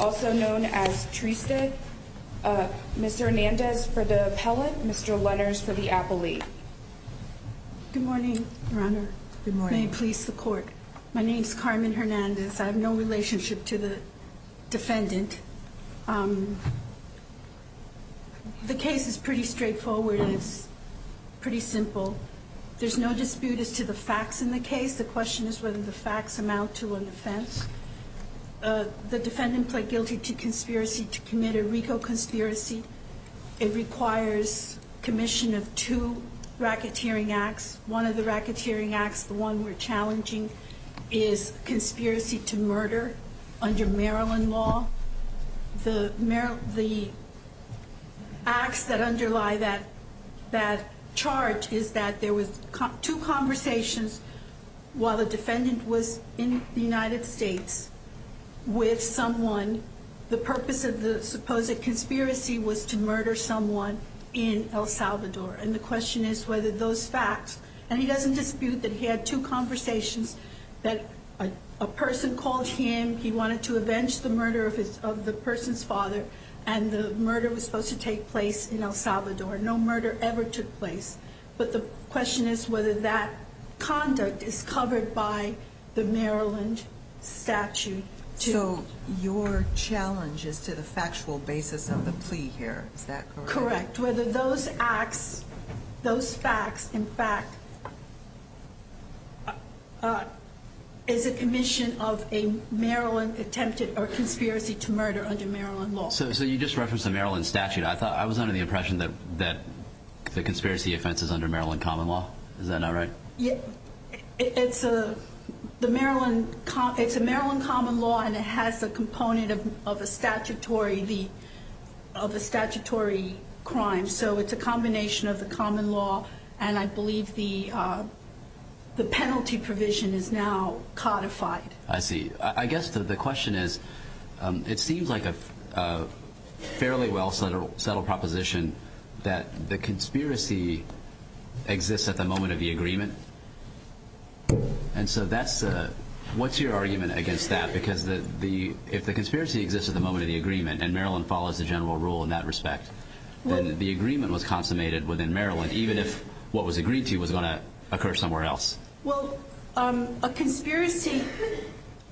also known as Trista. Mr. Hernandez for the appellate, Mr. Lenners for the appellate. Good morning, Your Honor. Good morning. May it please the court. My name is Carmen Hernandez. I have no relationship to the defendant. The case is pretty straightforward and it's pretty simple. There's no dispute as to the facts in the case. The question is whether the facts amount to an offense. The defendant pled guilty to conspiracy to commit a RICO conspiracy. It requires commission of two racketeering acts. One of the racketeering acts, the one we're challenging, is conspiracy to murder under Maryland law. The acts that underlie that charge is that there was two conversations while the defendant was in the United States with someone. The purpose of the supposed conspiracy was to murder someone in El Salvador. And the question is whether those facts, and he doesn't dispute that he had two conversations, that a person called him, he wanted to avenge the murder of the person's father, and the murder was supposed to take place in El Salvador. No murder ever took place. But the question is whether that conduct is covered by the Maryland statute. So your challenge is to the factual basis of the plea here. Is that correct? Correct. Whether those acts, those facts, in fact, is a commission of a Maryland attempted, or conspiracy to murder under Maryland law. So you just referenced the Maryland statute. I was under the impression that the conspiracy offense is under Maryland common law. Is that not right? It's a Maryland common law, and it has a component of a statutory crime. So it's a combination of the common law, and I believe the penalty provision is now codified. I see. I guess the question is, it seems like a fairly well-settled proposition that the conspiracy exists at the moment of the agreement. And so what's your argument against that? Because if the conspiracy exists at the moment of the agreement, and Maryland follows the general rule in that respect, then the agreement was consummated within Maryland, even if what was agreed to was going to occur somewhere else. Well, a conspiracy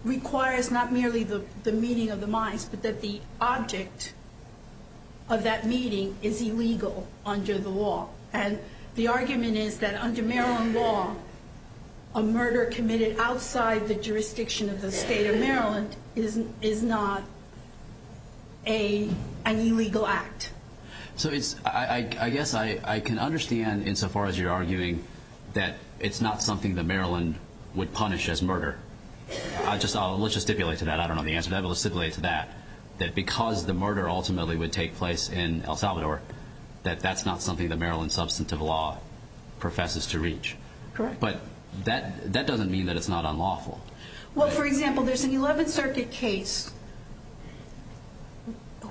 requires not merely the meeting of the minds, but that the object of that meeting is illegal under the law. And the argument is that under Maryland law, a murder committed outside the jurisdiction of the state of Maryland is not an illegal act. So I guess I can understand, insofar as you're arguing, that it's not something that Maryland would punish as murder. Let's just stipulate to that. I don't know the answer to that, but let's stipulate to that, that because the murder ultimately would take place in El Salvador, that that's not something that Maryland substantive law professes to reach. Correct. But that doesn't mean that it's not unlawful. Well, for example, there's an 11th Circuit case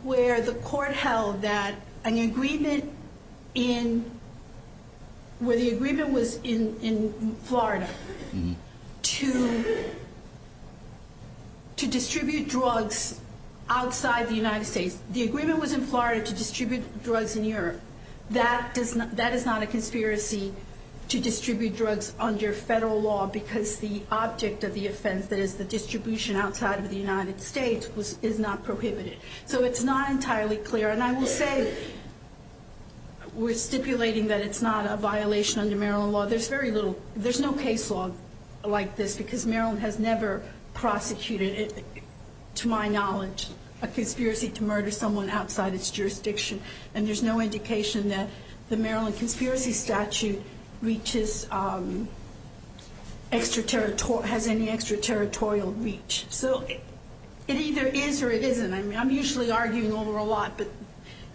where the court held that an agreement in— to distribute drugs outside the United States. The agreement was in Florida to distribute drugs in Europe. That is not a conspiracy to distribute drugs under federal law because the object of the offense that is the distribution outside of the United States is not prohibited. So it's not entirely clear. And I will say, we're stipulating that it's not a violation under Maryland law. There's very little—there's no case law like this because Maryland has never prosecuted, to my knowledge, a conspiracy to murder someone outside its jurisdiction. And there's no indication that the Maryland conspiracy statute reaches—has any extraterritorial reach. So it either is or it isn't. I mean, I'm usually arguing over a lot, but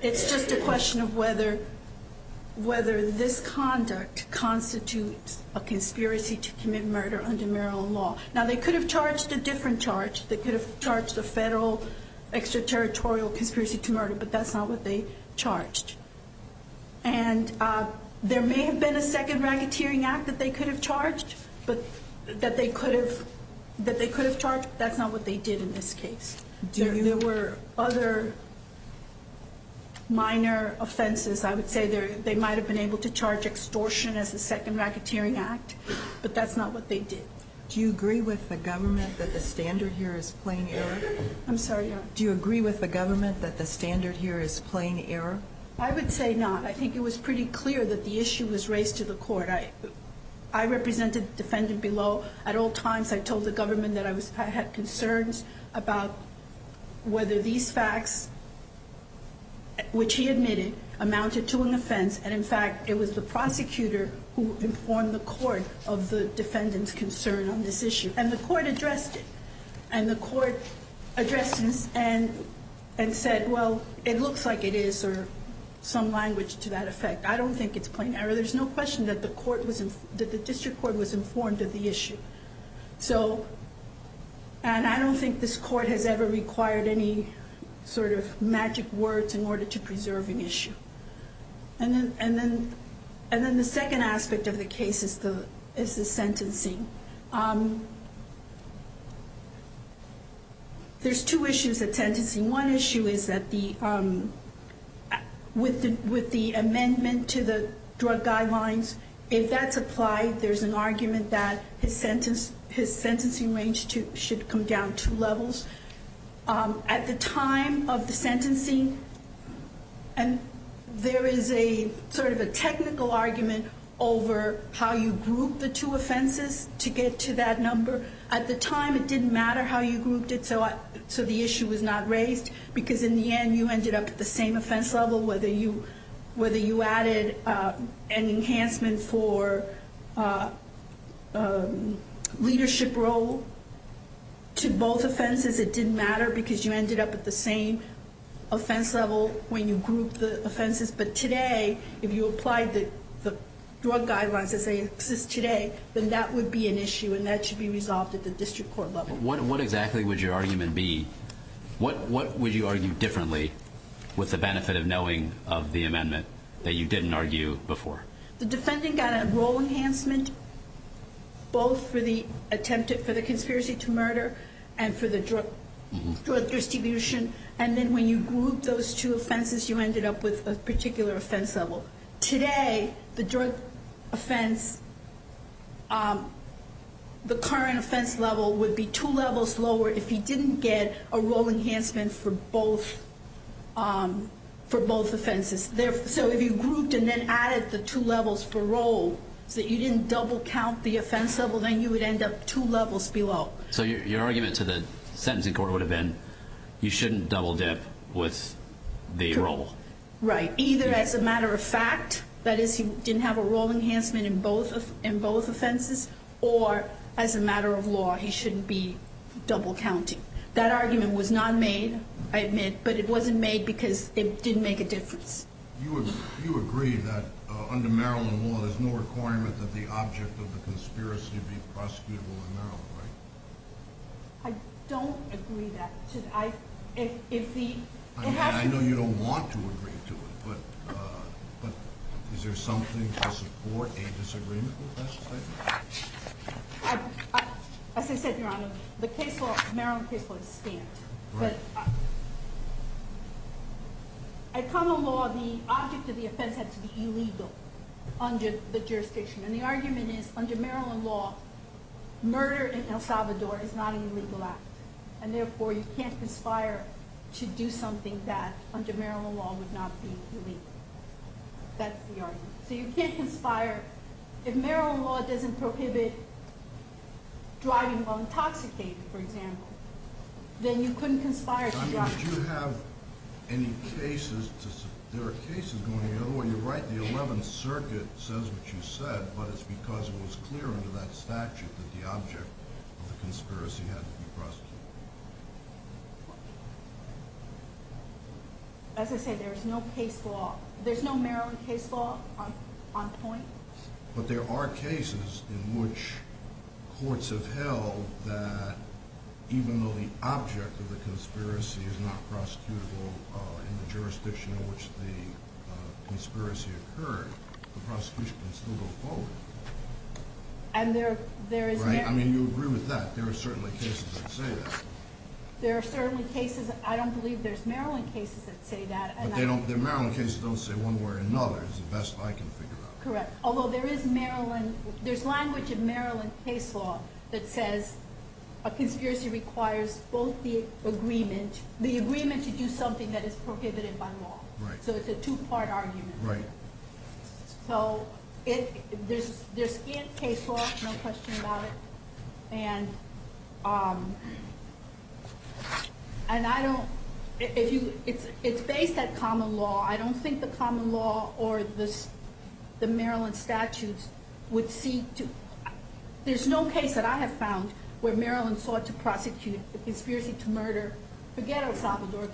it's just a question of whether this conduct constitutes a conspiracy to commit murder under Maryland law. Now, they could have charged a different charge. They could have charged a federal extraterritorial conspiracy to murder, but that's not what they charged. And there may have been a second racketeering act that they could have charged, but—that they could have charged, but that's not what they did in this case. There were other minor offenses. I would say they might have been able to charge extortion as the second racketeering act, but that's not what they did. Do you agree with the government that the standard here is plain error? I'm sorry? Do you agree with the government that the standard here is plain error? I would say not. I think it was pretty clear that the issue was raised to the court. I represented the defendant below. At all times, I told the government that I had concerns about whether these facts, which he admitted, amounted to an offense. And, in fact, it was the prosecutor who informed the court of the defendant's concern on this issue. And the court addressed it. And the court addressed this and said, well, it looks like it is, or some language to that effect. I don't think it's plain error. There's no question that the district court was informed of the issue. And I don't think this court has ever required any sort of magic words in order to preserve an issue. And then the second aspect of the case is the sentencing. There's two issues at sentencing. One issue is that with the amendment to the drug guidelines, if that's applied, there's an argument that his sentencing range should come down two levels. At the time of the sentencing, there is sort of a technical argument over how you group the two offenses to get to that number. At the time, it didn't matter how you grouped it, so the issue was not raised. Because, in the end, you ended up at the same offense level, whether you added an enhancement for leadership role to both offenses, it didn't matter because you ended up at the same offense level when you grouped the offenses. But today, if you applied the drug guidelines as they exist today, then that would be an issue, and that should be resolved at the district court level. What exactly would your argument be? What would you argue differently with the benefit of knowing of the amendment that you didn't argue before? The defendant got a role enhancement both for the conspiracy to murder and for the drug distribution. And then when you grouped those two offenses, you ended up with a particular offense level. Today, the drug offense, the current offense level would be two levels lower if he didn't get a role enhancement for both offenses. So if you grouped and then added the two levels for role, so you didn't double count the offense level, then you would end up two levels below. So your argument to the sentencing court would have been, you shouldn't double dip with the role. Right. Either as a matter of fact, that is, he didn't have a role enhancement in both offenses, or as a matter of law, he shouldn't be double counting. That argument was not made, I admit, but it wasn't made because it didn't make a difference. You agree that under Maryland law, there's no requirement that the object of the conspiracy be prosecutable in Maryland, right? I don't agree that. I mean, I know you don't want to agree to it, but is there something to support a disagreement with that statement? As I said, Your Honor, the Maryland case law is stamped. Right. But in common law, the object of the offense has to be illegal under the jurisdiction. And the argument is, under Maryland law, murder in El Salvador is not an illegal act. And therefore, you can't conspire to do something that, under Maryland law, would not be illegal. That's the argument. So you can't conspire. If Maryland law doesn't prohibit driving while intoxicated, for example, then you couldn't conspire to drive. I mean, would you have any cases to – there are cases going – in other words, you're right, the 11th Circuit says what you said, but it's because it was clear under that statute that the object of the conspiracy had to be prosecuted. As I said, there's no case law – there's no Maryland case law on point. But there are cases in which courts have held that even though the object of the conspiracy is not prosecutable in the jurisdiction in which the conspiracy occurred, the prosecution can still go forward. And there is – Right? I mean, you agree with that. There are certainly cases that say that. There are certainly cases – I don't believe there's Maryland cases that say that. But they don't – the Maryland cases don't say one way or another is the best I can figure out. Correct. Although there is Maryland – there's language in Maryland case law that says a conspiracy requires both the agreement – the agreement to do something that is prohibited by law. Right. So it's a two-part argument. Right. So there's in case law, no question about it. And I don't – it's based at common law. I don't think the common law or the Maryland statutes would seek to – there's no case that I have found where Maryland sought to prosecute a conspiracy to murder – forget El Salvador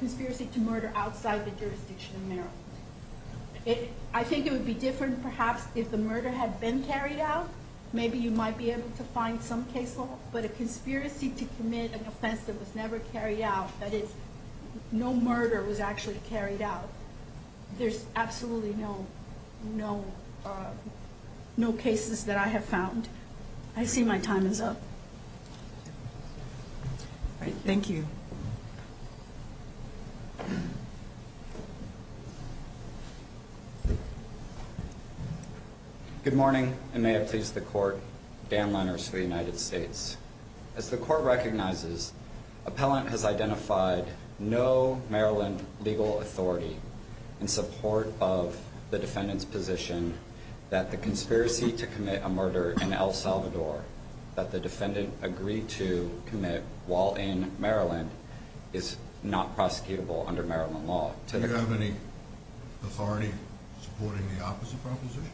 – I think it would be different perhaps if the murder had been carried out. Maybe you might be able to find some case law. But a conspiracy to commit an offense that was never carried out, that is, no murder was actually carried out, there's absolutely no cases that I have found. I see my time is up. Thank you. Good morning, and may it please the Court. Dan Lenners for the United States. As the Court recognizes, appellant has identified no Maryland legal authority in support of the defendant's position that the conspiracy to commit a murder in El Salvador that the defendant agreed to commit while in Maryland is not prosecutable under Maryland law. Do you have any authority supporting the opposite proposition?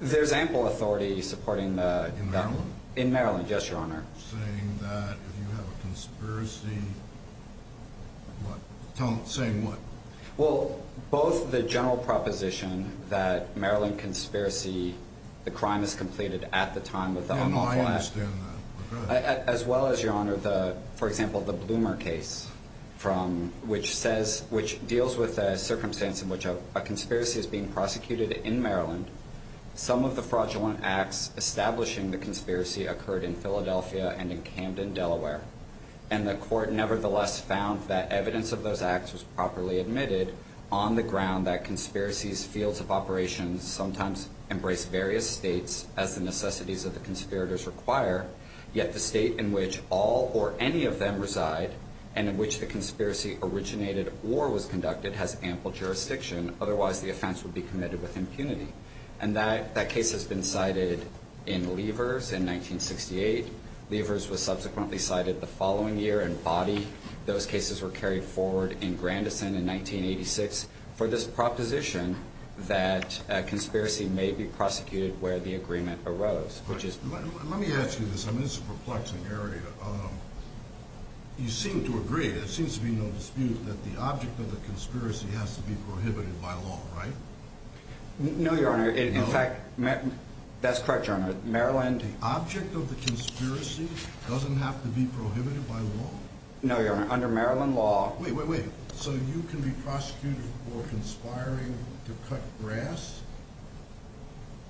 There's ample authority supporting the – In Maryland? In Maryland, yes, Your Honor. Saying that if you have a conspiracy, what – saying what? Well, both the general proposition that Maryland conspiracy, the crime is completed at the time of the – And I understand that. As well as, Your Honor, the – for example, the Bloomer case from – which says – which deals with a circumstance in which a conspiracy is being prosecuted in Maryland. Some of the fraudulent acts establishing the conspiracy occurred in Philadelphia and in Camden, Delaware. And the Court nevertheless found that evidence of those acts was properly admitted on the ground that conspiracies' fields of operations sometimes embrace various states as the necessities of the conspirators require, yet the state in which all or any of them reside and in which the conspiracy originated or was conducted has ample jurisdiction. Otherwise, the offense would be committed with impunity. And that case has been cited in Levers in 1968. Levers was subsequently cited the following year in Boddy. Those cases were carried forward in Grandison in 1986 for this proposition that a conspiracy may be prosecuted where the agreement arose, which is – Let me ask you this. I mean, this is a perplexing area. You seem to agree, there seems to be no dispute, that the object of the conspiracy has to be prohibited by law, right? No, Your Honor. In fact – No? That's correct, Your Honor. Maryland – The object of the conspiracy doesn't have to be prohibited by law? No, Your Honor. Under Maryland law –– to cut grass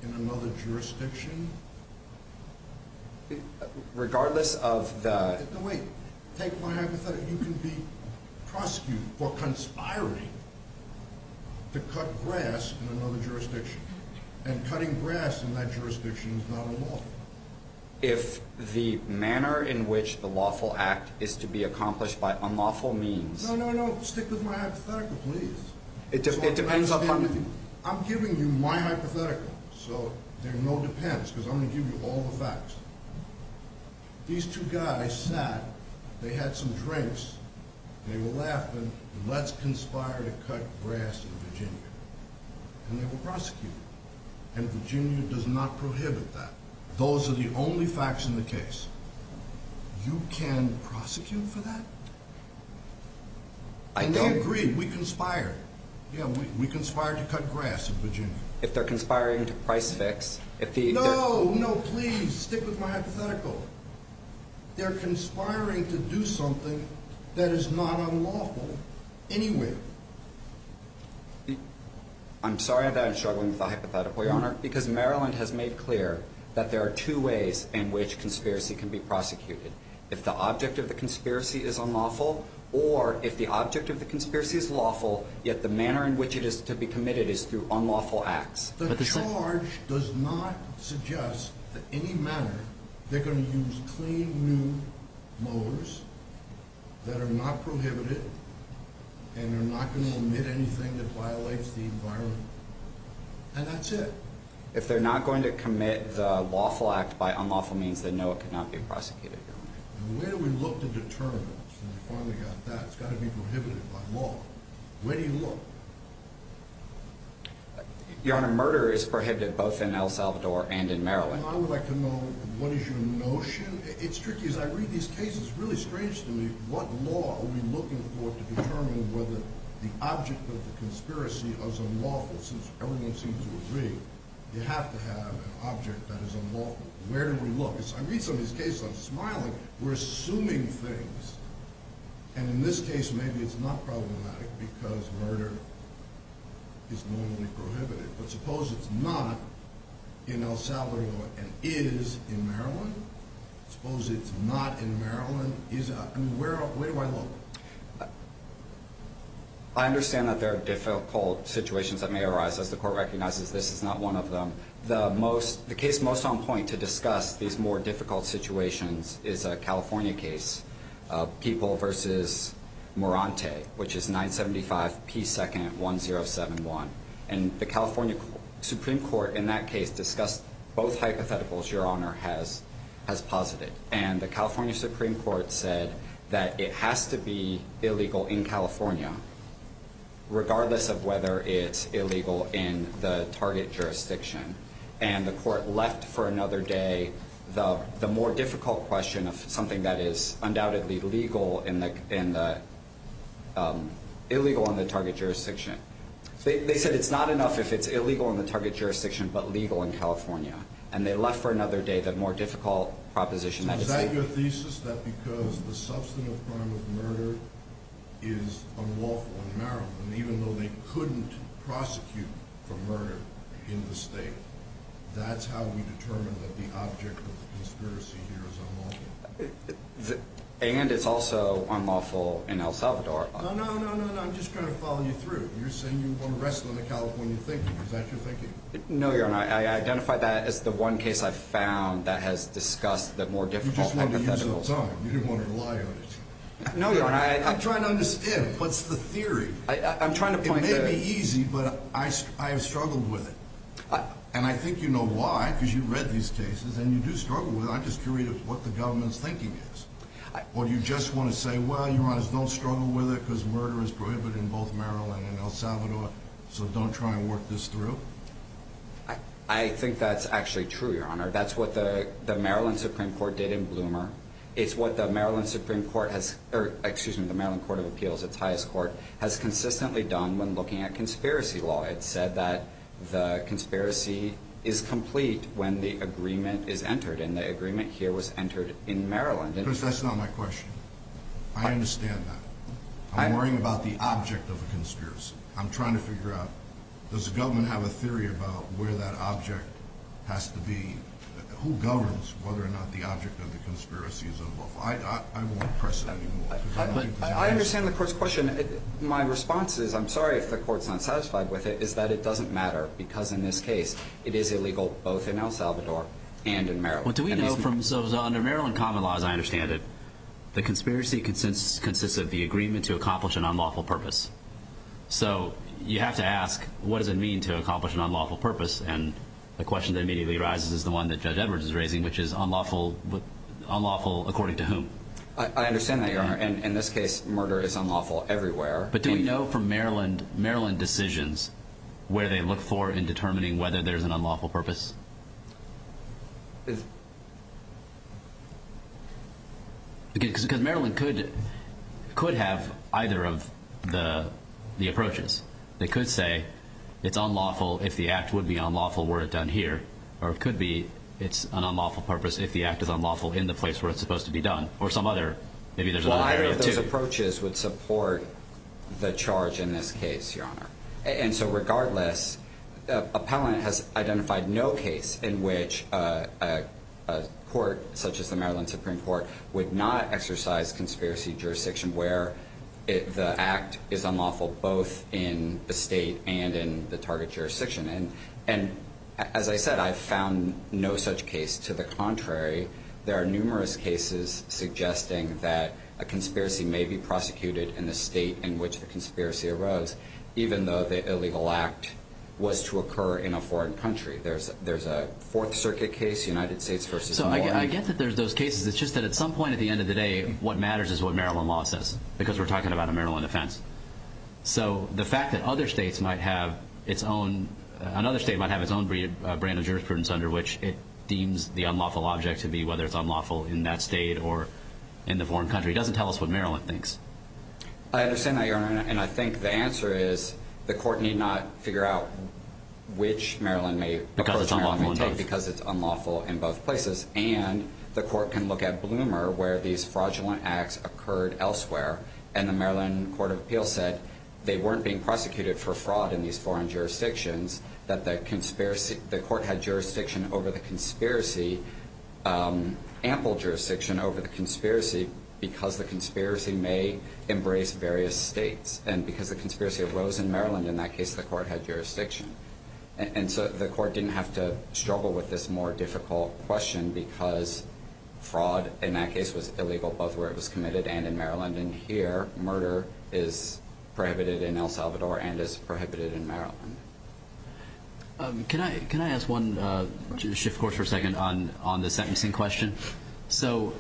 in another jurisdiction? Regardless of the – No, wait. Take my hypothetical. You can be prosecuted for conspiring to cut grass in another jurisdiction. And cutting grass in that jurisdiction is not unlawful. If the manner in which the lawful act is to be accomplished by unlawful means – No, no, no. Stick with my hypothetical, please. It depends upon – I'm giving you my hypothetical, so there are no depends, because I'm going to give you all the facts. These two guys sat, they had some drinks, they were laughing, let's conspire to cut grass in Virginia. And they were prosecuted. And Virginia does not prohibit that. Those are the only facts in the case. You can prosecute for that? I don't – And they agreed. We conspired. Yeah, we conspired to cut grass in Virginia. If they're conspiring to price fix – No, no, please. Stick with my hypothetical. They're conspiring to do something that is not unlawful, anyway. I'm sorry that I'm struggling with the hypothetical, Your Honor, because Maryland has made clear that there are two ways in which conspiracy can be prosecuted. If the object of the conspiracy is unlawful, or if the object of the conspiracy is lawful, yet the manner in which it is to be committed is through unlawful acts. The charge does not suggest that in any manner they're going to use clean, new mowers that are not prohibited and are not going to omit anything that violates the environment. And that's it. If they're not going to commit the lawful act by unlawful means, then no, it cannot be prosecuted, Your Honor. And where do we look to determine? Since we finally got that, it's got to be prohibited by law. Where do you look? Your Honor, murder is prohibited both in El Salvador and in Maryland. And I would like to know what is your notion – It's tricky. As I read these cases, it's really strange to me. What law are we looking for to determine whether the object of the conspiracy is unlawful, but since everyone seems to agree, you have to have an object that is unlawful. Where do we look? I read some of these cases, I'm smiling. We're assuming things. And in this case, maybe it's not problematic because murder is normally prohibited. But suppose it's not in El Salvador and is in Maryland. Suppose it's not in Maryland. Where do I look? I understand that there are difficult situations that may arise. As the Court recognizes, this is not one of them. The case most on point to discuss these more difficult situations is a California case, People v. Morante, which is 975 P. 2nd 1071. And the California Supreme Court in that case discussed both hypotheticals Your Honor has posited. And the California Supreme Court said that it has to be illegal in California, regardless of whether it's illegal in the target jurisdiction. And the Court left for another day the more difficult question of something that is undoubtedly illegal in the target jurisdiction. They said it's not enough if it's illegal in the target jurisdiction, but legal in California. And they left for another day the more difficult proposition. Is that your thesis, that because the substantive crime of murder is unlawful in Maryland, even though they couldn't prosecute for murder in the state, that's how we determine that the object of the conspiracy here is unlawful? And it's also unlawful in El Salvador. No, no, no, no, no. I'm just trying to follow you through. You're saying you want to wrestle in the California thinking. Is that your thinking? No, Your Honor. I identify that as the one case I've found that has discussed the more difficult hypotheticals. You just wanted to use your time. You didn't want to rely on it. No, Your Honor. I'm trying to understand. What's the theory? It may be easy, but I have struggled with it. And I think you know why, because you've read these cases and you do struggle with it. I'm just curious what the government's thinking is. Or do you just want to say, well, Your Honor, don't struggle with it, because murder is prohibited in both Maryland and El Salvador. So don't try and work this through. I think that's actually true, Your Honor. That's what the Maryland Supreme Court did in Bloomer. It's what the Maryland Supreme Court has, or excuse me, the Maryland Court of Appeals, its highest court, has consistently done when looking at conspiracy law. It said that the conspiracy is complete when the agreement is entered. And the agreement here was entered in Maryland. That's not my question. I understand that. I'm worrying about the object of the conspiracy. I'm trying to figure out, does the government have a theory about where that object has to be? Who governs whether or not the object of the conspiracy is involved? I won't press that anymore. I understand the court's question. My response is, I'm sorry if the court's not satisfied with it, is that it doesn't matter because in this case it is illegal both in El Salvador and in Maryland. So under Maryland common law, as I understand it, the conspiracy consists of the agreement to accomplish an unlawful purpose. So you have to ask, what does it mean to accomplish an unlawful purpose? And the question that immediately arises is the one that Judge Edwards is raising, which is unlawful according to whom? I understand that, Your Honor. In this case, murder is unlawful everywhere. But do we know from Maryland decisions where they look for in determining whether there's an unlawful purpose? Because Maryland could have either of the approaches. They could say it's unlawful if the act would be unlawful were it done here. Or it could be it's an unlawful purpose if the act is unlawful in the place where it's supposed to be done. Or some other, maybe there's another area too. Well, I don't know if those approaches would support the charge in this case, Your Honor. And so regardless, appellant has identified no case in which a court, such as the Maryland Supreme Court, would not exercise conspiracy jurisdiction where the act is unlawful both in the state and in the target jurisdiction. And as I said, I've found no such case. To the contrary, there are numerous cases suggesting that a conspiracy may be prosecuted in the state in which the conspiracy arose, even though the illegal act was to occur in a foreign country. There's a Fourth Circuit case, United States versus New Orleans. So I get that there's those cases. It's just that at some point at the end of the day, what matters is what Maryland law says, because we're talking about a Maryland offense. So the fact that other states might have its own brand of jurisprudence under which it deems the unlawful object to be, whether it's unlawful in that state or in the foreign country, doesn't tell us what Maryland thinks. I understand that, Your Honor. And I think the answer is the court need not figure out which Maryland may approach Maryland because it's unlawful in both places. And the court can look at Bloomer where these fraudulent acts occurred elsewhere, and the Maryland Court of Appeals said they weren't being prosecuted for fraud in these foreign jurisdictions, that the court had jurisdiction over the conspiracy, ample jurisdiction over the conspiracy, because the conspiracy may embrace various states. And because the conspiracy arose in Maryland in that case, the court had jurisdiction. And so the court didn't have to struggle with this more difficult question because fraud in that case was illegal both where it was committed and in Maryland. And in here, murder is prohibited in El Salvador and is prohibited in Maryland. Can I ask one shift course for a second on the sentencing question? So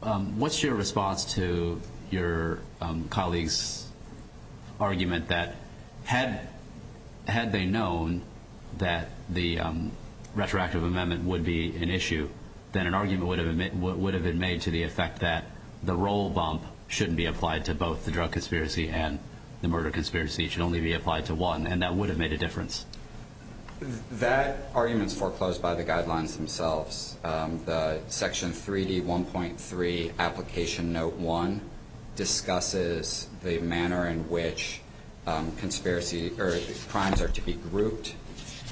what's your response to your colleague's argument that had they known that the retroactive amendment would be an issue, then an argument would have been made to the effect that the roll bump shouldn't be applied to both the drug conspiracy and the murder conspiracy, it should only be applied to one, and that would have made a difference? That argument is foreclosed by the guidelines themselves. The Section 3D1.3 Application Note 1 discusses the manner in which crimes are to be grouped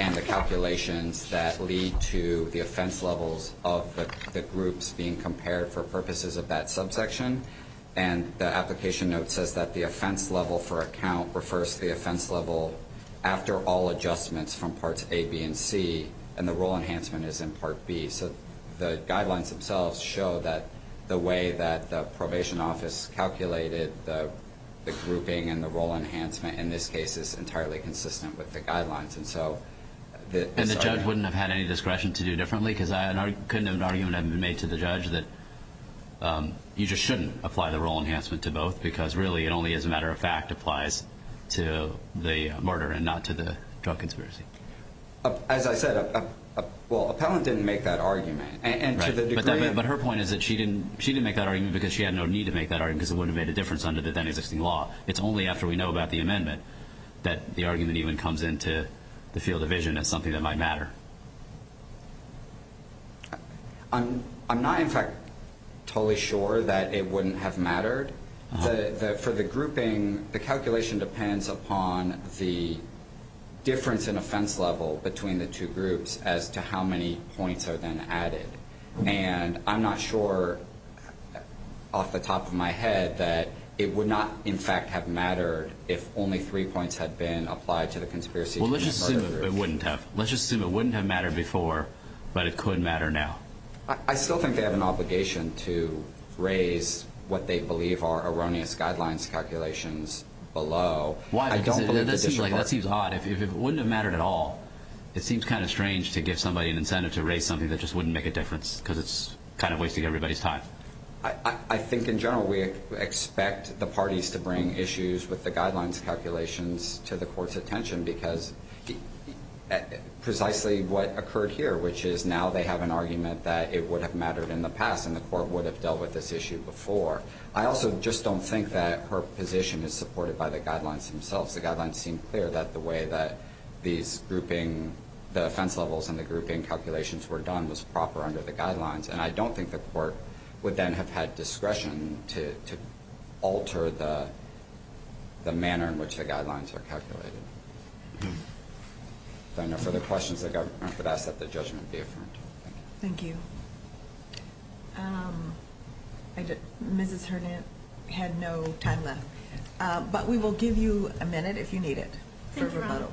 and the calculations that lead to the offense levels of the groups being compared for purposes of that subsection. And the application note says that the offense level for a count refers to the offense level after all adjustments from Parts A, B, and C, and the role enhancement is in Part B. So the guidelines themselves show that the way that the probation office calculated the grouping and the role enhancement in this case is entirely consistent with the guidelines. And the judge wouldn't have had any discretion to do differently? Because I couldn't have an argument made to the judge that you just shouldn't apply the role enhancement to both because really it only, as a matter of fact, applies to the murder and not to the drug conspiracy. As I said, well, Appellant didn't make that argument. But her point is that she didn't make that argument because she had no need to make that argument because it wouldn't have made a difference under the then-existing law. It's only after we know about the amendment that the argument even comes into the field of vision as something that might matter. I'm not, in fact, totally sure that it wouldn't have mattered. For the grouping, the calculation depends upon the difference in offense level between the two groups as to how many points are then added. And I'm not sure off the top of my head that it would not, in fact, have mattered if only three points had been applied to the conspiracy to commit murder. Well, let's just assume it wouldn't have. Let's just assume it wouldn't have mattered before, but it could matter now. I still think they have an obligation to raise what they believe are erroneous guidelines calculations below. Why? Because that seems odd. If it wouldn't have mattered at all, it seems kind of strange to give somebody an incentive to raise something that just wouldn't make a difference because it's kind of wasting everybody's time. I think, in general, we expect the parties to bring issues with the guidelines calculations to the court's attention because precisely what occurred here, which is now they have an argument that it would have mattered in the past and the court would have dealt with this issue before. I also just don't think that her position is supported by the guidelines themselves. The guidelines seem clear that the way that the offense levels and the grouping calculations were done was proper under the guidelines, and I don't think the court would then have had discretion to alter the manner in which the guidelines were calculated. If there are no further questions, the government would ask that the judgment be affirmed. Thank you. Thank you. Mrs. Hernant had no time left, but we will give you a minute if you need it for rebuttal.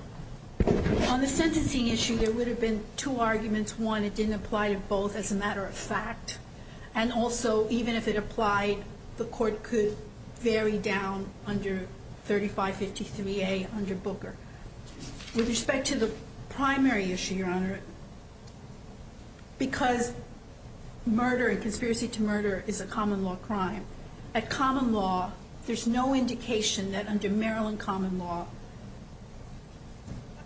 Thank you, Your Honor. On the sentencing issue, there would have been two arguments. One, it didn't apply to both as a matter of fact, and also even if it applied, the court could vary down under 3553A under Booker. With respect to the primary issue, Your Honor, because murder and conspiracy to murder is a common law crime, a common law, there's no indication that under Maryland common law,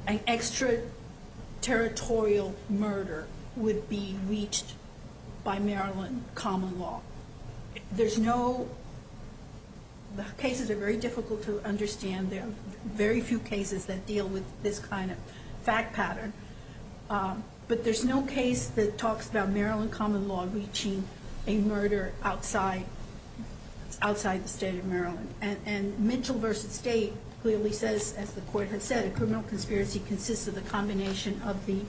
an extraterritorial murder would be reached by Maryland common law. There's no, the cases are very difficult to understand. There are very few cases that deal with this kind of fact pattern, but there's no case that talks about Maryland common law reaching a murder outside the state of Maryland. And Mitchell v. State clearly says, as the court has said, a criminal conspiracy consists of the combination of the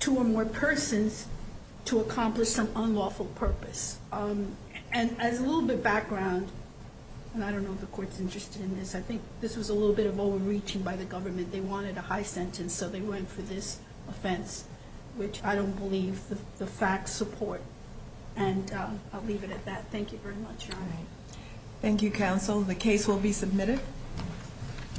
two or more persons to accomplish some unlawful purpose. And as a little bit background, and I don't know if the court's interested in this, I think this was a little bit of overreaching by the government. They wanted a high sentence, so they went for this offense, which I don't believe the facts support. And I'll leave it at that. Thank you very much, Your Honor. Thank you, counsel. The case will be submitted.